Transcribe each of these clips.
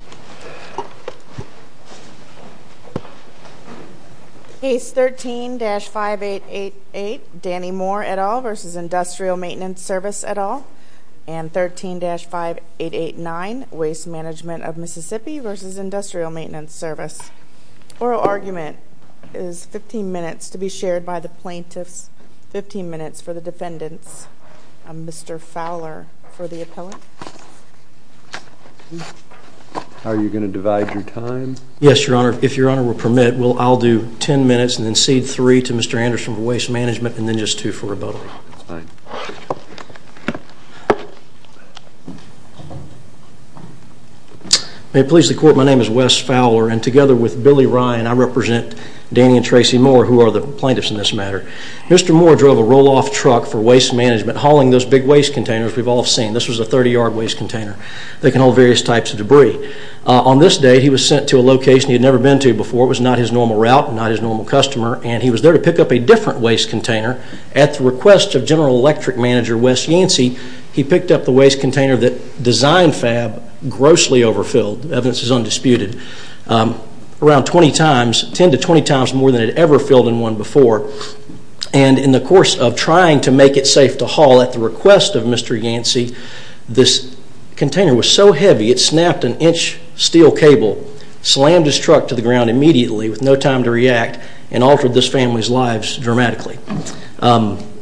13-5889 Waste Management of Mississippi v. Industrial Maintenance Service Oral argument is 15 minutes to be shared by the plaintiffs, 15 minutes for the defendants. Mr. Fowler for the appellate. Are you going to divide your time? Yes, Your Honor. If Your Honor will permit, I'll do 10 minutes and then cede 3 to Mr. Anderson for waste management and then just 2 for rebuttal. That's fine. May it please the Court, my name is Wes Fowler and together with Billy Ryan, I represent Danny and Tracy Moore, who are the plaintiffs in this matter. Mr. Moore drove a roll-off truck for waste management hauling those big waste containers we've all seen. This was a 30-yard waste container that can hold various types of debris. On this day, he was sent to a location he had never been to before. It was not his normal route, not his normal customer, and he was there to pick up a different waste container. At the request of General Electric Manager Wes Yancey, he picked up the waste container that Design Fab grossly overfilled. Evidence is undisputed. Around 20 times, 10 to 20 times more than it had ever filled in one before. And in the course of trying to make it safe to haul, at the request of Mr. Yancey, this container was so heavy it snapped an inch steel cable, slammed his truck to the ground immediately with no time to react, and altered this family's lives dramatically. Is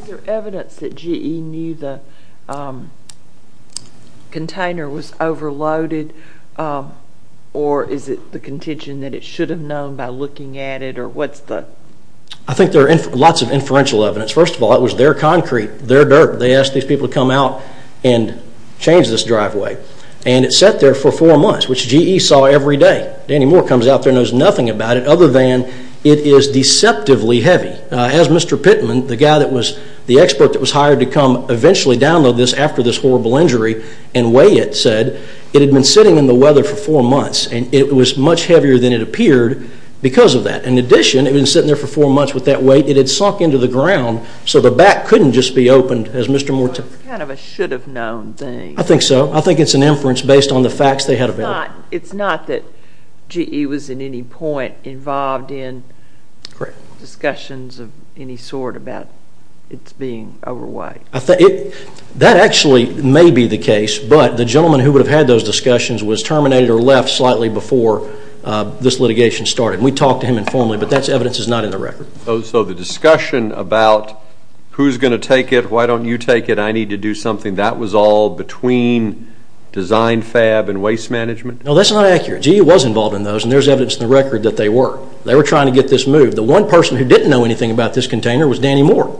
there evidence that GE knew the container was overloaded, or is it the contention that it should have known by looking at it? I think there are lots of inferential evidence. First of all, it was their concrete, their dirt. They asked these people to come out and change this driveway. And it sat there for four months, which GE saw every day. Danny Moore comes out there and knows nothing about it other than it is deceptively heavy. As Mr. Pittman, the guy that was the expert that was hired to come eventually download this after this horrible injury and weigh it, said, it had been sitting in the weather for four months, and it was much heavier than it appeared because of that. In addition, it had been sitting there for four months with that weight. It had sunk into the ground, so the back couldn't just be opened, as Mr. Moore said. It's kind of a should-have-known thing. I think so. I think it's an inference based on the facts they had available. It's not that GE was at any point involved in discussions of any sort about its being overweight. That actually may be the case, but the gentleman who would have had those discussions was terminated or left slightly before this litigation started. We talked to him informally, but that evidence is not in the record. So the discussion about who's going to take it, why don't you take it, I need to do something, that was all between DesignFab and Waste Management? No, that's not accurate. GE was involved in those, and there's evidence in the record that they were. They were trying to get this moved. The one person who didn't know anything about this container was Danny Moore.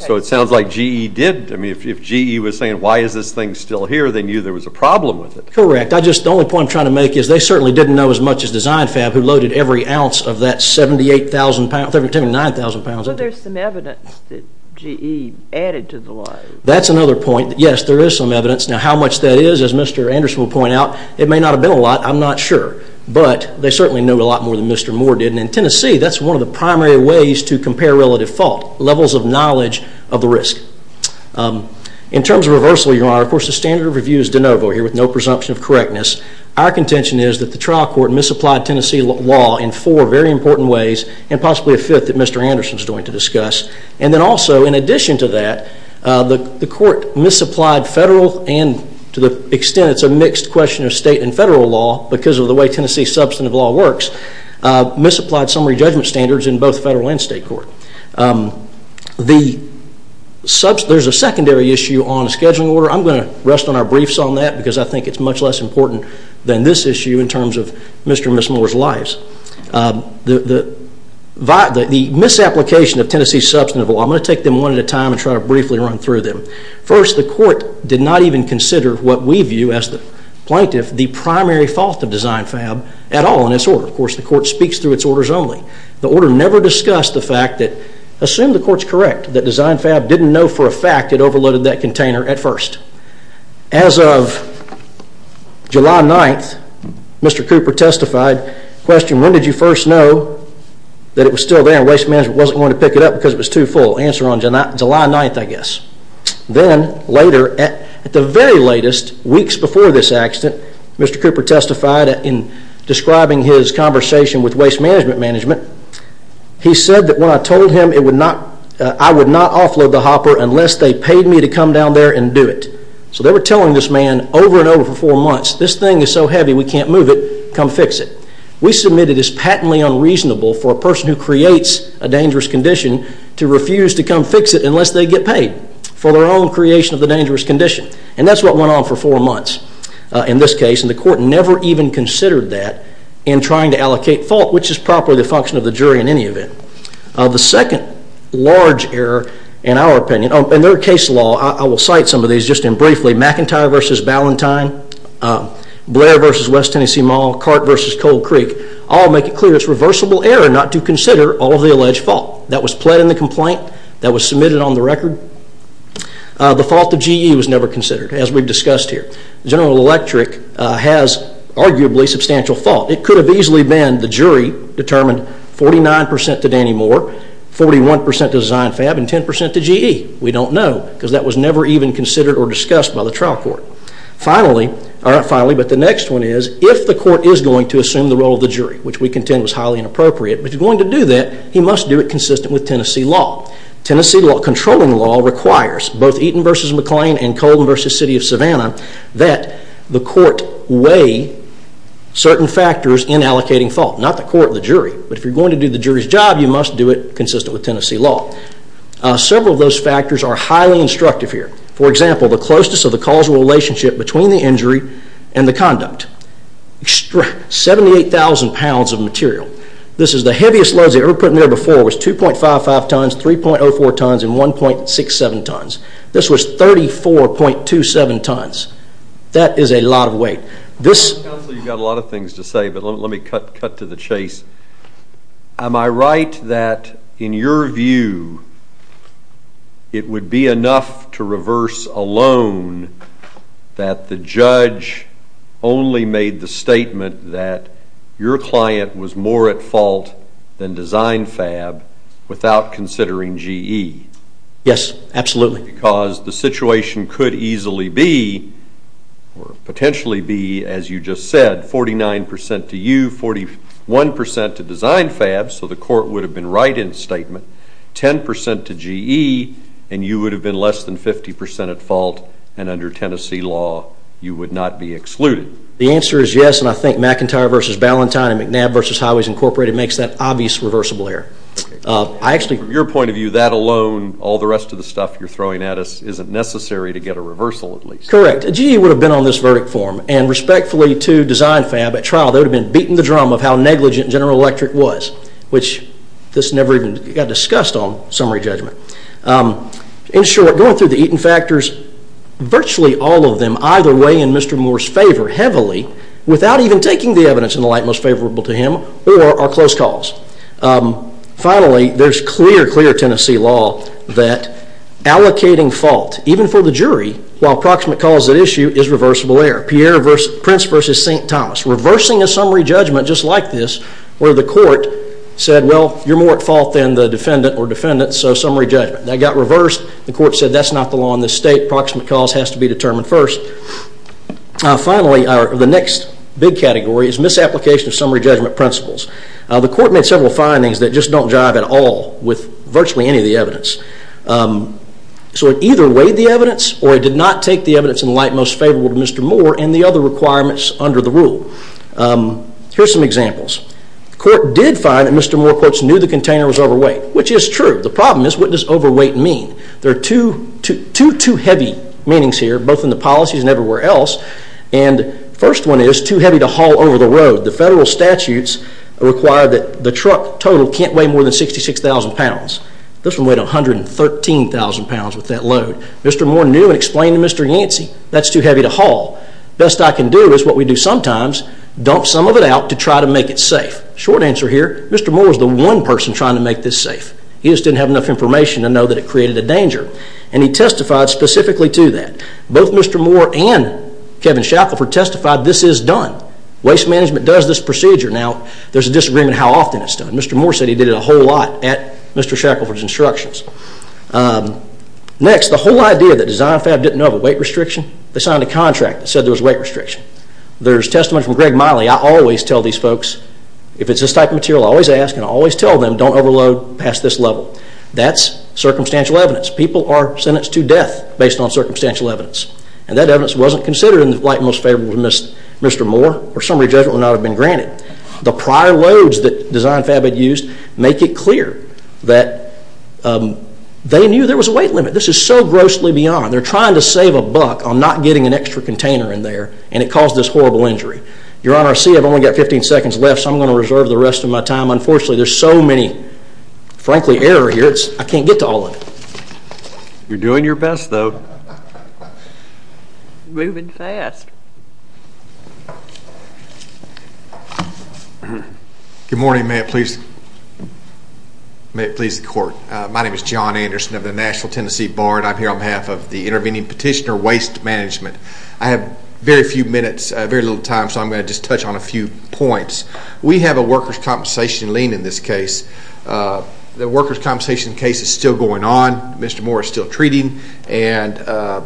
So it sounds like GE didn't. If GE was saying, why is this thing still here, they knew there was a problem with it. Correct. The only point I'm trying to make is they certainly didn't know as much as DesignFab, who loaded every ounce of that 78,000 pounds, 79,000 pounds of it. But there's some evidence that GE added to the lie. That's another point. Yes, there is some evidence. Now, how much that is, as Mr. Anderson will point out, it may not have been a lot. I'm not sure. But they certainly knew a lot more than Mr. Moore did. And in Tennessee, that's one of the primary ways to compare relative fault, levels of knowledge of the risk. In terms of reversal, Your Honor, of course, the standard of review is de novo here with no presumption of correctness. Our contention is that the trial court misapplied Tennessee law in four very important ways and possibly a fifth that Mr. Anderson is going to discuss. And then also, in addition to that, the court misapplied federal and to the extent it's a mixed question of state and federal law because of the way Tennessee substantive law works, misapplied summary judgment standards in both federal and state court. There's a secondary issue on scheduling order. I'm going to rest on our briefs on that because I think it's much less important than this issue in terms of Mr. and Ms. Moore's lives. The misapplication of Tennessee substantive law, I'm going to take them one at a time and try to briefly run through them. First, the court did not even consider what we view as the plaintiff the primary fault of DesignFab at all in this order. Of course, the court speaks through its orders only. The order never discussed the fact that, assume the court's correct, that DesignFab didn't know for a fact it overloaded that container at first. As of July 9th, Mr. Cooper testified, when did you first know that it was still there and Waste Management wasn't going to pick it up because it was too full? Answer on July 9th, I guess. Then, later, at the very latest, weeks before this accident, Mr. Cooper testified in describing his conversation with Waste Management Management. He said that when I told him I would not offload the hopper unless they paid me to come down there and do it. So they were telling this man over and over for four months, this thing is so heavy we can't move it, come fix it. We submit it as patently unreasonable for a person who creates a dangerous condition to refuse to come fix it unless they get paid for their own creation of the dangerous condition. And that's what went on for four months in this case. And the court never even considered that in trying to allocate fault, which is properly the function of the jury in any event. The second large error in our opinion, in their case law, I will cite some of these just in briefly, McIntyre v. Ballantyne, Blair v. West Tennessee Mall, Cart v. Cold Creek, all make it clear it's reversible error not to consider all of the alleged fault. That was pled in the complaint, that was submitted on the record. The fault of GE was never considered, as we've discussed here. General Electric has arguably substantial fault. It could have easily been the jury determined 49% to Danny Moore, 41% to Zynfab, and 10% to GE. We don't know, because that was never even considered or discussed by the trial court. Finally, but the next one is, if the court is going to assume the role of the jury, which we contend was highly inappropriate, but is going to do that, he must do it consistent with Tennessee law. that the court weigh certain factors in allocating fault. Not the court, the jury, but if you're going to do the jury's job, you must do it consistent with Tennessee law. Several of those factors are highly instructive here. For example, the closeness of the causal relationship between the injury and the conduct. 78,000 pounds of material. This is the heaviest loads they've ever put in there before. It was 2.55 tons, 3.04 tons, and 1.67 tons. This was 34.27 tons. That is a lot of weight. Counsel, you've got a lot of things to say, but let me cut to the chase. Am I right that, in your view, it would be enough to reverse a loan that the judge only made the statement that your client was more at fault than Zynfab without considering GE? Yes, absolutely. Because the situation could easily be, or potentially be, as you just said, 49% to you, 41% to Zynfab, so the court would have been right in statement, 10% to GE, and you would have been less than 50% at fault, and under Tennessee law you would not be excluded. The answer is yes, and I think McIntyre v. Ballantyne and McNabb v. Highways, Inc. makes that obvious reversible error. From your point of view, that alone, all the rest of the stuff you're throwing at us, isn't necessary to get a reversal at least. Correct. GE would have been on this verdict form, and respectfully to Zynfab, at trial they would have been beating the drum of how negligent General Electric was, which this never even got discussed on summary judgment. In short, going through the Eaton factors, virtually all of them, either weigh in Mr. Moore's favor heavily without even taking the evidence in the light most favorable to him, or are close calls. Finally, there's clear, clear Tennessee law that allocating fault, even for the jury, while proximate calls at issue, is reversible error. Prince v. St. Thomas, reversing a summary judgment just like this, where the court said, well, you're more at fault than the defendant or defendants, so summary judgment. That got reversed, the court said that's not the law in this state, proximate calls has to be determined first. Finally, the next big category is misapplication of summary judgment principles. The court made several findings that just don't jive at all with virtually any of the evidence. So it either weighed the evidence, or it did not take the evidence in the light most favorable to Mr. Moore and the other requirements under the rule. Here's some examples. The court did find that Mr. Moore quotes, knew the container was overweight, which is true. The problem is, what does overweight mean? There are two too heavy meanings here, both in the policies and everywhere else, and the first one is too heavy to haul over the road. The federal statutes require that the truck total can't weigh more than 66,000 pounds. This one weighed 113,000 pounds with that load. Mr. Moore knew and explained to Mr. Yancey, that's too heavy to haul. Best I can do is what we do sometimes, dump some of it out to try to make it safe. Short answer here, Mr. Moore was the one person trying to make this safe. He just didn't have enough information to know that it created a danger, and he testified specifically to that. Both Mr. Moore and Kevin Shackelford testified this is done. Waste management does this procedure. Now, there's a disagreement how often it's done. Mr. Moore said he did it a whole lot at Mr. Shackelford's instructions. Next, the whole idea that DesignFab didn't know of a weight restriction, they signed a contract that said there was weight restriction. There's testimony from Greg Miley. I always tell these folks, if it's this type of material, I always ask and I always tell them don't overload past this level. That's circumstantial evidence. People are sentenced to death based on circumstantial evidence. That evidence wasn't considered in the light most favorable to Mr. Moore, or summary judgment would not have been granted. The prior loads that DesignFab had used make it clear that they knew there was a weight limit. This is so grossly beyond. They're trying to save a buck on not getting an extra container in there, and it caused this horrible injury. Your Honor, I see I've only got 15 seconds left, so I'm going to reserve the rest of my time. Unfortunately, there's so many, frankly, errors here, I can't get to all of them. You're doing your best, though. Moving fast. Good morning. May it please the Court. My name is John Anderson of the Nashville, Tennessee Bar, and I'm here on behalf of the Intervening Petitioner Waste Management. I have very few minutes, very little time, so I'm going to just touch on a few points. We have a workers' compensation lien in this case. The workers' compensation case is still going on. Mr. Moore is still treating. And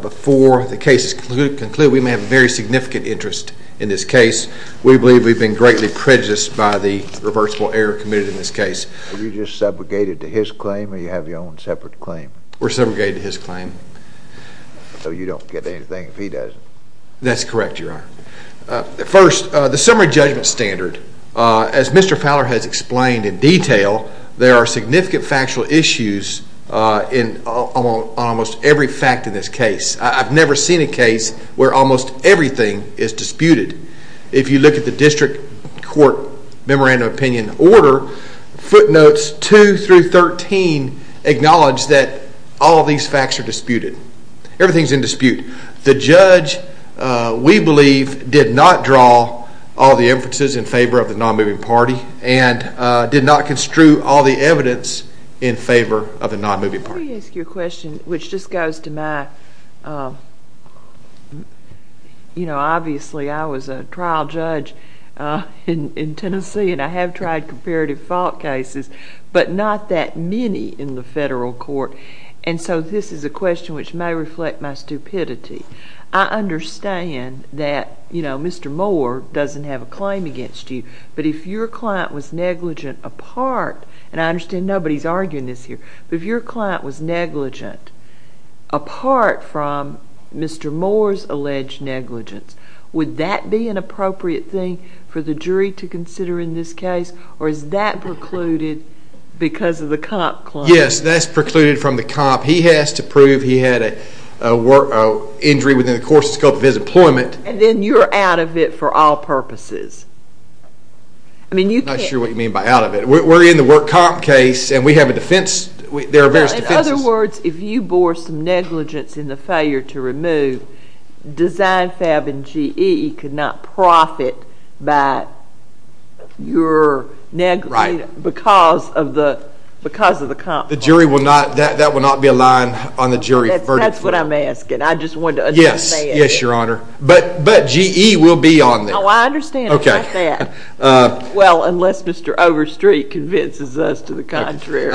before the case is concluded, we may have a very significant interest in this case. We believe we've been greatly prejudiced by the reversible error committed in this case. Were you just subjugated to his claim, or do you have your own separate claim? We're subjugated to his claim. So you don't get anything if he doesn't. That's correct, Your Honor. First, the summary judgment standard. As Mr. Fowler has explained in detail, there are significant factual issues on almost every fact in this case. I've never seen a case where almost everything is disputed. If you look at the district court memorandum opinion order, footnotes 2 through 13 acknowledge that all these facts are disputed. Everything is in dispute. The judge, we believe, did not draw all the inferences in favor of the nonmoving party and did not construe all the evidence in favor of the nonmoving party. Let me ask you a question which just goes to my, you know, obviously I was a trial judge in Tennessee, and I have tried comparative fault cases, but not that many in the federal court. And so this is a question which may reflect my stupidity. I understand that, you know, Mr. Moore doesn't have a claim against you, but if your client was negligent a part, and I understand nobody is arguing this here, but if your client was negligent a part from Mr. Moore's alleged negligence, would that be an appropriate thing for the jury to consider in this case, or is that precluded because of the comp claim? Yes, that's precluded from the comp. He has to prove he had an injury within the course and scope of his employment. And then you're out of it for all purposes. I'm not sure what you mean by out of it. We're in the work comp case, and we have a defense. There are various defenses. In other words, if you bore some negligence in the failure to remove, Design Fab and GE could not profit by your negligence because of the comp claim. That will not be a line on the jury verdict. That's what I'm asking. I just wanted to understand. Yes, Your Honor. But GE will be on there. Oh, I understand about that. Well, unless Mr. Overstreet convinces us to the contrary.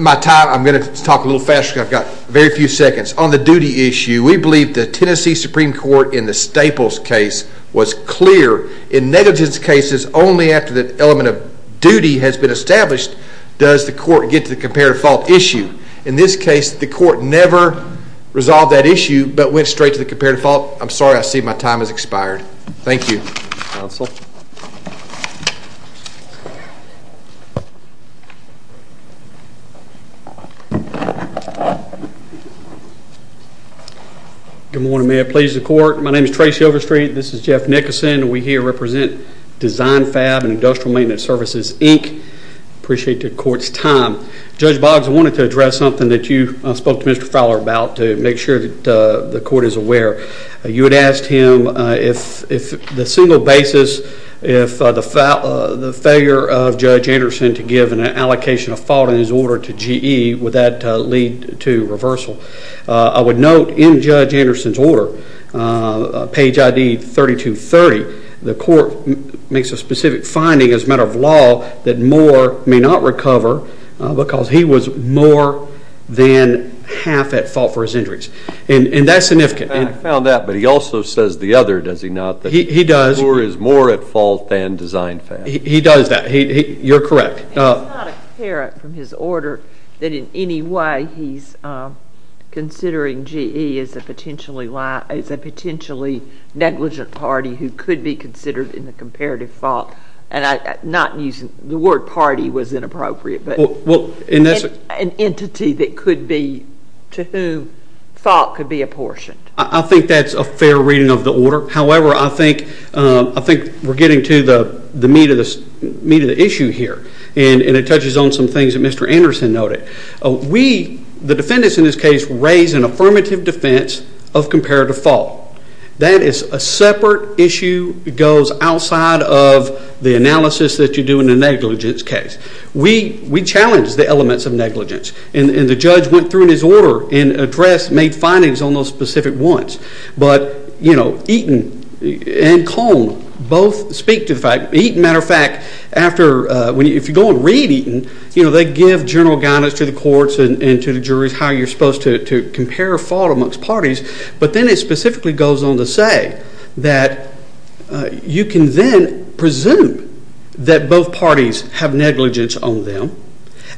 My time, I'm going to talk a little faster because I've got very few seconds. On the duty issue, we believe the Tennessee Supreme Court in the Staples case was clear. In negligence cases, only after the element of duty has been established does the court get to the comparative fault issue. In this case, the court never resolved that issue but went straight to the comparative fault. I'm sorry. I see my time has expired. Thank you. Counsel. Good morning, may it please the court. My name is Tracy Overstreet. This is Jeff Nickerson. We here represent Design Fab and Industrial Maintenance Services, Inc. Appreciate the court's time. Judge Boggs, I wanted to address something that you spoke to Mr. Fowler about to make sure that the court is aware. You had asked him if the single basis, if the failure of Judge Anderson to give an allocation of fault in his order to GE, would that lead to reversal? I would note in Judge Anderson's order, page ID 3230, the court makes a specific finding as a matter of law that Moore may not recover because he was more than half at fault for his injuries. And that's significant. I found that. But he also says the other, does he not? He does. Moore is more at fault than Design Fab. He does that. You're correct. It's not apparent from his order that in any way he's considering GE as a potentially negligent party who could be considered in the comparative fault. The word party was inappropriate. An entity that could be, to whom fault could be apportioned. I think that's a fair reading of the order. However, I think we're getting to the meat of the issue here. And it touches on some things that Mr. Anderson noted. We, the defendants in this case, raise an affirmative defense of comparative fault. That is a separate issue that goes outside of the analysis that you do in a negligence case. We challenge the elements of negligence. And the judge went through in his order and addressed, made findings on those specific ones. But Eaton and Cone both speak to the fact, Eaton, matter of fact, if you go and read Eaton, they give general guidance to the courts and to the juries how you're supposed to compare fault amongst parties. But then it specifically goes on to say that you can then presume that both parties have negligence on them.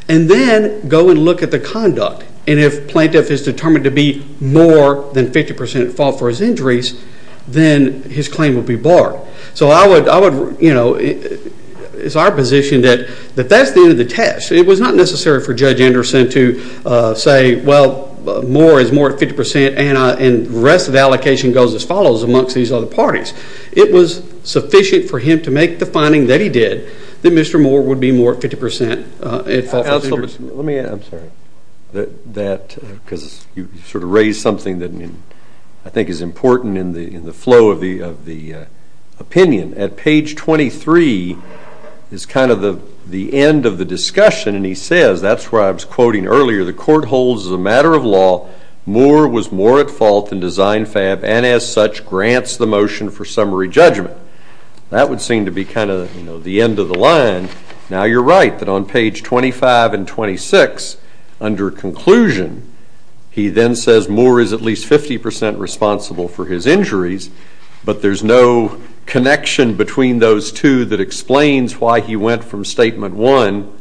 And then go and look at the conduct. And if plaintiff is determined to be more than 50% at fault for his injuries, then his claim will be barred. So I would, you know, it's our position that that's the end of the test. It was not necessary for Judge Anderson to say, well, more is more at 50% and the rest of the allocation goes as follows amongst these other parties. It was sufficient for him to make the finding that he did, that Mr. Moore would be more at 50% at fault for his injuries. Let me add, I'm sorry, that because you sort of raised something that I think is important in the flow of the opinion. At page 23 is kind of the end of the discussion. And he says, that's where I was quoting earlier, the court holds as a matter of law, Moore was more at fault than Design Fab and as such grants the motion for summary judgment. That would seem to be kind of the end of the line. Now you're right that on page 25 and 26, under conclusion, he then says Moore is at least 50% responsible for his injuries, but there's no connection between those two that explains why he went from statement 1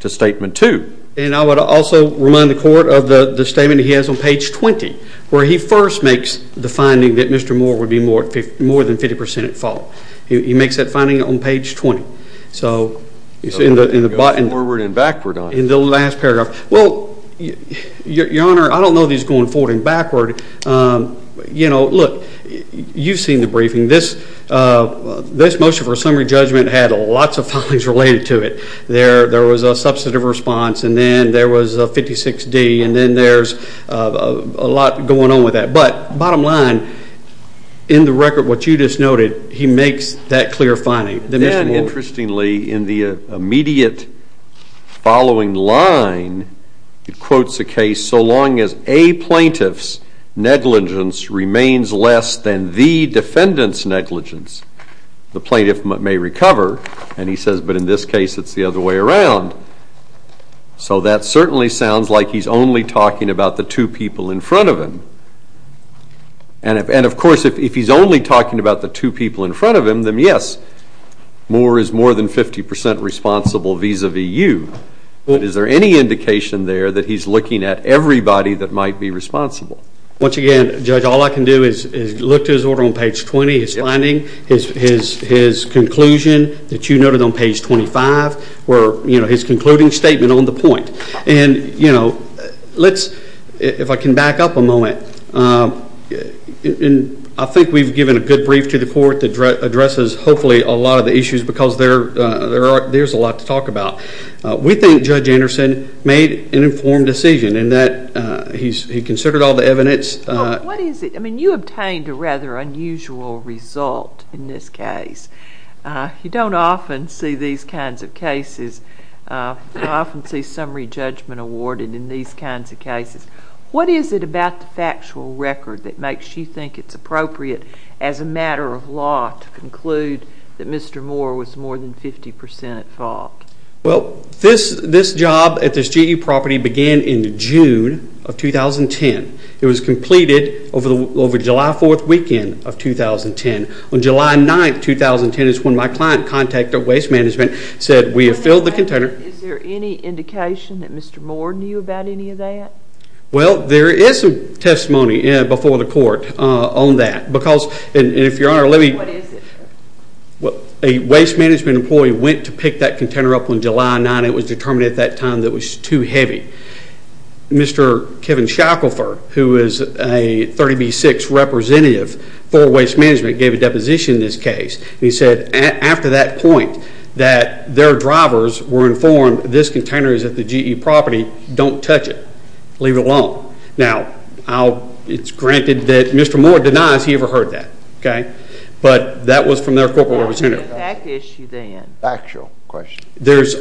to statement 2. And I would also remind the court of the statement he has on page 20, where he first makes the finding that Mr. Moore would be more than 50% at fault. He makes that finding on page 20. In the last paragraph. Well, Your Honor, I don't know that he's going forward and backward. You know, look, you've seen the briefing. This motion for summary judgment had lots of findings related to it. There was a substantive response and then there was a 56D and then there's a lot going on with that. But bottom line, in the record, what you just noted, he makes that clear finding. Then, interestingly, in the immediate following line, it quotes a case, so long as a plaintiff's negligence remains less than the defendant's negligence, the plaintiff may recover. And he says, but in this case, it's the other way around. So that certainly sounds like he's only talking about the two people in front of him. And, of course, if he's only talking about the two people in front of him, then, yes, Moore is more than 50% responsible vis-a-vis you. Is there any indication there that he's looking at everybody that might be responsible? Once again, Judge, all I can do is look to his order on page 20, his finding, his conclusion that you noted on page 25, his concluding statement on the point. And if I can back up a moment, I think we've given a good brief to the court that addresses, hopefully, a lot of the issues because there's a lot to talk about. We think Judge Anderson made an informed decision in that he considered all the evidence. Well, what is it? I mean, you obtained a rather unusual result in this case. You don't often see these kinds of cases. I often see summary judgment awarded in these kinds of cases. What is it about the factual record that makes you think it's appropriate as a matter of law to conclude that Mr. Moore was more than 50% at fault? Well, this job at this GE property began in June of 2010. It was completed over the July 4th weekend of 2010. On July 9th, 2010 is when my client contacted Waste Management and said, We have filled the container. Is there any indication that Mr. Moore knew about any of that? Well, there is some testimony before the court on that. And if Your Honor, let me... What is it? A Waste Management employee went to pick that container up on July 9th and it was determined at that time that it was too heavy. Mr. Kevin Shackelford, who is a 30B6 representative for Waste Management, gave a deposition in this case. He said after that point that their drivers were informed this container is at the GE property. Don't touch it. Leave it alone. Now, it's granted that Mr. Moore denies he ever heard that. But that was from their corporate representative. What was the exact issue then? Factual question.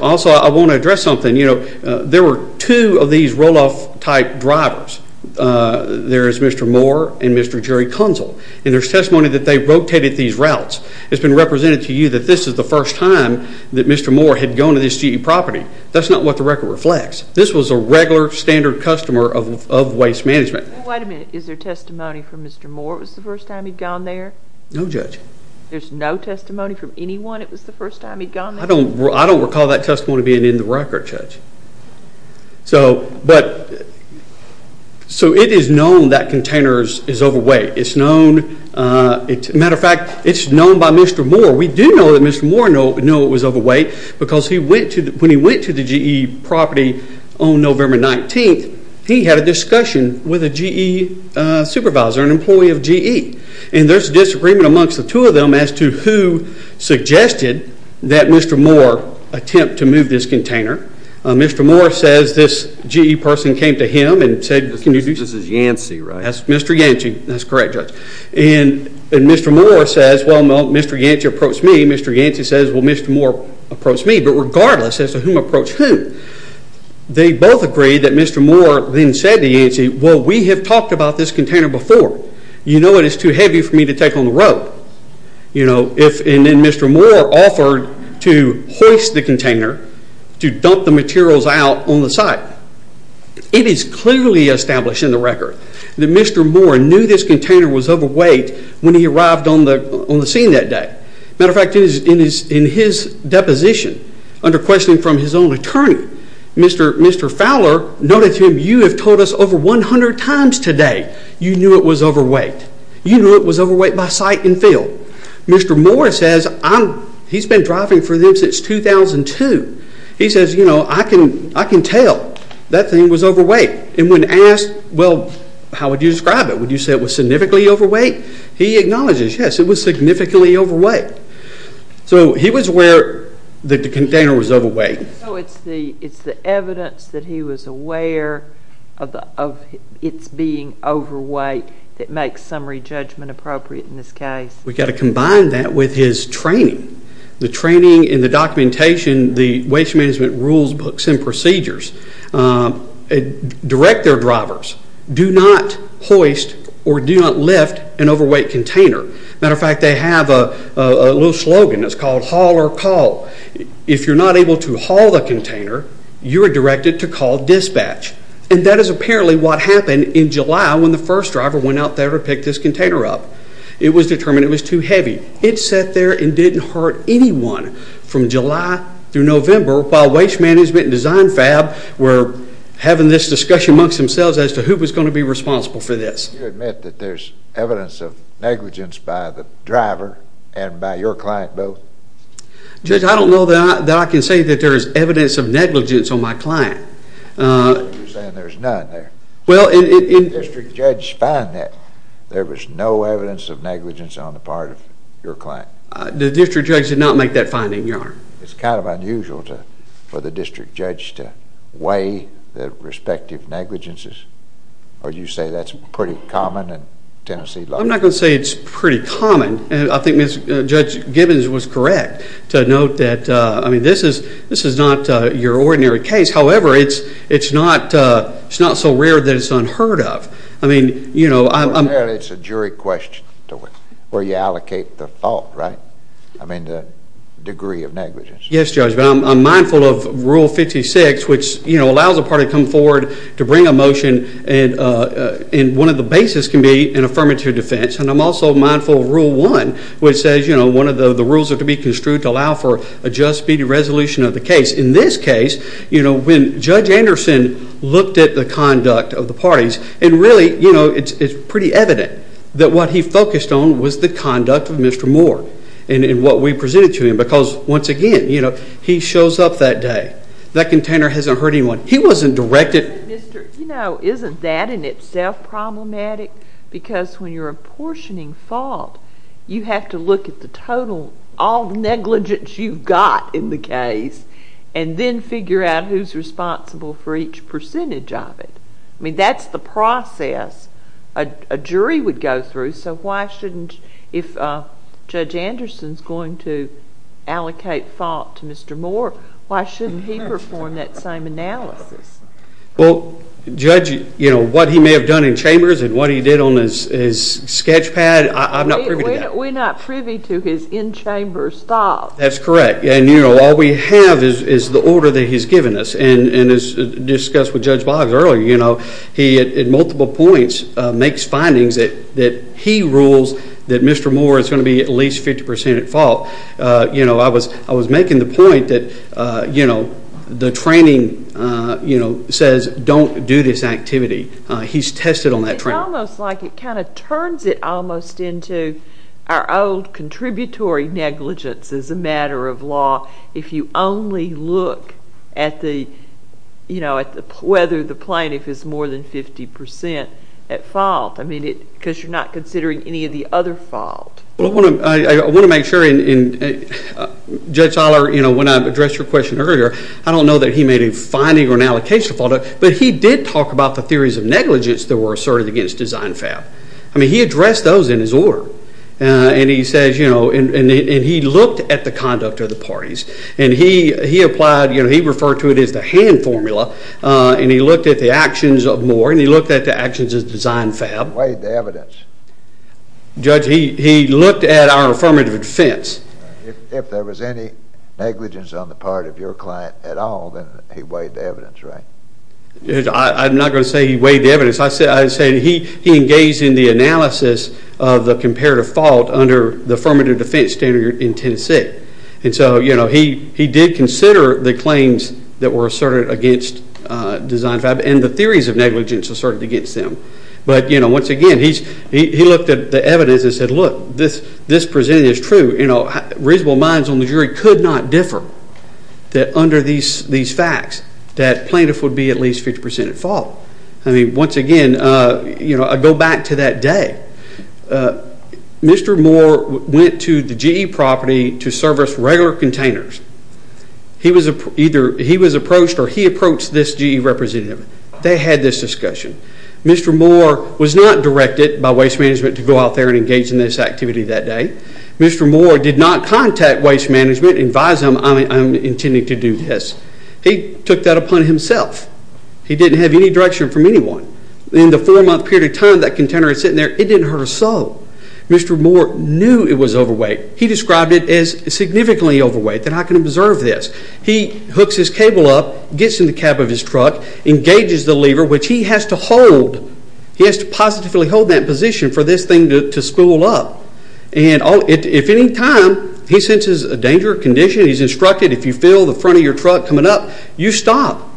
Also, I want to address something. There were two of these Roloff-type drivers. There is Mr. Moore and Mr. Jerry Kunzel. And there's testimony that they rotated these routes. It's been represented to you that this is the first time that Mr. Moore had gone to this GE property. That's not what the record reflects. This was a regular, standard customer of Waste Management. Wait a minute. Is there testimony from Mr. Moore? It was the first time he'd gone there? No, Judge. There's no testimony from anyone it was the first time he'd gone there? I don't recall that testimony being in the record, Judge. So it is known that container is overweight. It's known. As a matter of fact, it's known by Mr. Moore. We do know that Mr. Moore knew it was overweight because when he went to the GE property on November 19th, he had a discussion with a GE supervisor, an employee of GE. And there's disagreement amongst the two of them as to who suggested that Mr. Moore attempt to move this container. Mr. Moore says this GE person came to him and said, This is Yancey, right? That's Mr. Yancey. That's correct, Judge. And Mr. Moore says, Well, Mr. Yancey approached me. Mr. Yancey says, Well, Mr. Moore approached me. But regardless as to whom approached whom, they both agreed that Mr. Moore then said to Yancey, Well, we have talked about this container before. You know it is too heavy for me to take on the road. And then Mr. Moore offered to hoist the container to dump the materials out on the site. It is clearly established in the record that Mr. Moore knew this container was overweight when he arrived on the scene that day. As a matter of fact, in his deposition, under questioning from his own attorney, Mr. Fowler noted to him, You have told us over 100 times today you knew it was overweight. You knew it was overweight by sight and feel. Mr. Moore says, He has been driving for them since 2002. He says, You know, I can tell that thing was overweight. And when asked, Well, how would you describe it? Would you say it was significantly overweight? He acknowledges, Yes, it was significantly overweight. So he was aware that the container was overweight. So it is the evidence that he was aware of its being overweight that makes summary judgment appropriate in this case. We have got to combine that with his training. The training and the documentation, the waste management rules, books, and procedures direct their drivers, Do not hoist or do not lift an overweight container. As a matter of fact, they have a little slogan. It is called haul or call. If you are not able to haul the container, you are directed to call dispatch. And that is apparently what happened in July when the first driver went out there to pick this container up. It was determined it was too heavy. It sat there and did not hurt anyone from July through November while Waste Management and Design Fab were having this discussion amongst themselves as to who was going to be responsible for this. Do you admit that there is evidence of negligence by the driver and by your client both? Judge, I don't know that I can say that there is evidence of negligence on my client. You are saying there is none there. Well, it... Did the district judge find that there was no evidence of negligence on the part of your client? The district judge did not make that finding, Your Honor. It is kind of unusual for the district judge to weigh the respective negligences. Or do you say that is pretty common in Tennessee law? I am not going to say it is pretty common. I think Judge Gibbons was correct to note that this is not your ordinary case. However, it is not so rare that it is unheard of. I mean, you know... It is a jury question where you allocate the fault, right? I mean, the degree of negligence. Yes, Judge. I am mindful of Rule 56 which allows a party to come forward to bring a motion and one of the bases can be an affirmative defense. And I am also mindful of Rule 1 which says one of the rules is to be construed to allow for a just, speedy resolution of the case. In this case, when Judge Anderson looked at the conduct of the parties and really it is pretty evident that what he focused on was the conduct of Mr. Moore and what we presented to him. Because, once again, he shows up that day. That container has not hurt anyone. He was not directed... Isn't that in itself problematic? Because, when you are apportioning fault, you have to look at the total... all the negligence you have got in the case and then figure out who is responsible for each percentage of it. I mean, that is the process a jury would go through. So, why shouldn't... If Judge Anderson is going to allocate fault to Mr. Moore, why shouldn't he perform that same analysis? Well, Judge, you know, what he may have done in chambers and what he did on his sketch pad, I am not privy to that. We are not privy to his in-chambers thoughts. That is correct. And, you know, all we have is the order that he has given us. And, as discussed with Judge Boggs earlier, you know, he, at multiple points, makes findings that he rules that Mr. Moore is going to be at least 50% at fault. You know, I was making the point that, you know, the training, you know, says don't do this activity. He has tested on that training. It is almost like it kind of turns it almost into our old contributory negligence as a matter of law if you only look at the, you know, whether the plaintiff is more than 50% at fault. I mean, because you are not considering any of the other fault. Well, I want to make sure in... Judge Toller, you know, when I addressed your question earlier, I don't know that he made a finding or an allocation of fault. But he did talk about the theories of negligence that were asserted against Design Fab. I mean, he addressed those in his order. And he says, you know, and he looked at the conduct of the parties. And he applied, you know, he referred to it as the hand formula. And he looked at the actions of Moore and he looked at the actions of Design Fab. He weighed the evidence. Judge, he looked at our affirmative defense. If there was any negligence on the part of your client at all, then he weighed the evidence, right? I'm not going to say he weighed the evidence. I'd say he engaged in the analysis of the comparative fault under the affirmative defense standard in Tennessee. And so, you know, he did consider the claims that were asserted against Design Fab and the theories of negligence asserted against them. But, you know, once again, he looked at the evidence and said, look, this presented is true. You know, reasonable minds on the jury could not differ that under these facts that plaintiff would be at least 50% at fault. I mean, once again, you know, I go back to that day. Mr. Moore went to the GE property to service regular containers. He was approached or he approached this GE representative. They had this discussion. Mr. Moore was not directed by waste management to go out there and engage in this activity that day. Mr. Moore did not contact waste management and advise them I'm intending to do this. He took that upon himself. He didn't have any direction from anyone. In the four-month period of time that container was sitting there, it didn't hurt a soul. Mr. Moore knew it was overweight. He described it as significantly overweight. And I can observe this. He hooks his cable up, gets in the cab of his truck, engages the lever, which he has to hold. He has to positively hold that position for this thing to spool up. And if at any time he senses a danger or condition, he's instructed, if you feel the front of your truck coming up, you stop.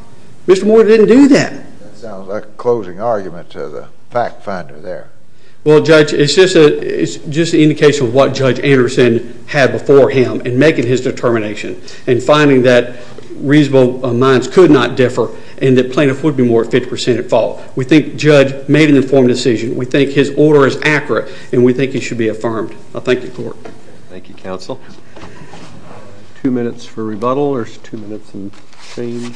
Mr. Moore didn't do that. That sounds like a closing argument to the fact finder there. Well, Judge, it's just an indication of what Judge Anderson had before him in making his determination and finding that reasonable minds could not differ and that plaintiff would be more 50% at fault. We think Judge made an informed decision. We think his order is accurate. And we think it should be affirmed. I thank you, Court. Thank you, Counsel. Two minutes for rebuttal or two minutes in change?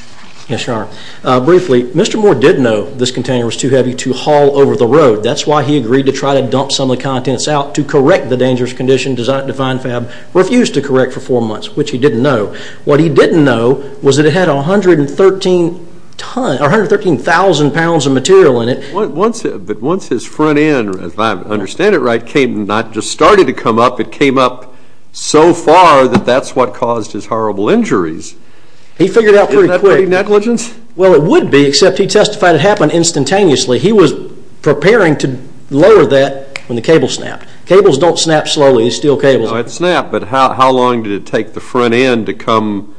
Yes, Your Honor. Briefly, Mr. Moore did know this container was too heavy to haul over the road. That's why he agreed to try to dump some of the contents out to correct the dangerous condition designed to find Fab refused to correct for four months, which he didn't know. What he didn't know was that it had 113,000 pounds of material in it. But once his front end, if I understand it right, came, not just started to come up, it came up so far that that's what caused his horrible injuries. He figured out pretty quick. Isn't that pretty negligence? Well, it would be, except he testified it happened instantaneously. He was preparing to lower that when the cable snapped. Cables don't snap slowly. It's still cables. No, it snapped, but how long did it take the front end to come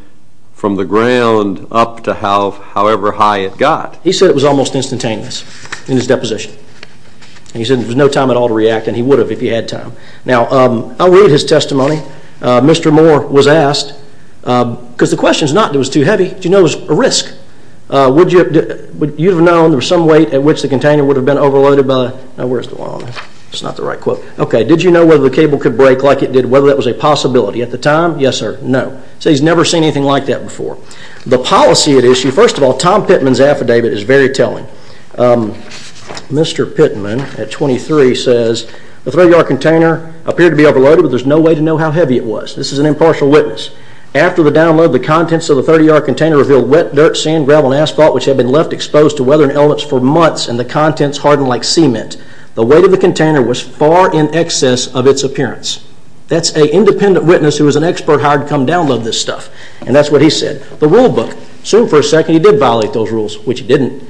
from the ground up to however high it got? He said it was almost instantaneous in his deposition. He said there was no time at all to react, and he would have if he had time. Now, I'll read his testimony. Mr. Moore was asked, because the question is not that it was too heavy. Do you know it was a risk? Would you have known there was some weight at which the container would have been overloaded by? No, where's the line? That's not the right quote. Okay, did you know whether the cable could break like it did, whether that was a possibility at the time? Yes or no. So he's never seen anything like that before. The policy at issue, first of all, Tom Pittman's affidavit is very telling. Mr. Pittman at 23 says, the 30-yard container appeared to be overloaded, but there's no way to know how heavy it was. This is an impartial witness. After the download, the contents of the 30-yard container revealed wet dirt, sand, gravel, and asphalt which had been left exposed to weather and elements for months, and the contents hardened like cement. The weight of the container was far in excess of its appearance. That's an independent witness who was an expert hired to come download this stuff, and that's what he said. The rule book, assumed for a second he did violate those rules, which he didn't.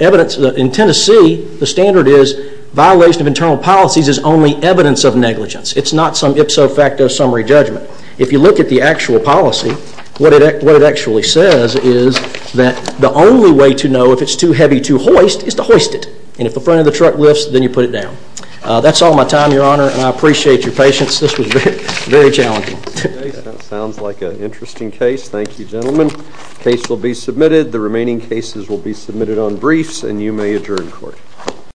In Tennessee, the standard is violation of internal policies is only evidence of negligence. It's not some ipso facto summary judgment. If you look at the actual policy, what it actually says is that the only way to know if it's too heavy to hoist is to hoist it, and if the front of the truck lifts, then you put it down. That's all my time, This was very challenging. That sounds like an interesting case. Thank you, gentlemen. The case will be submitted. The remaining cases will be submitted to the Supreme Court. The remaining cases will be submitted on briefs, and you may adjourn court.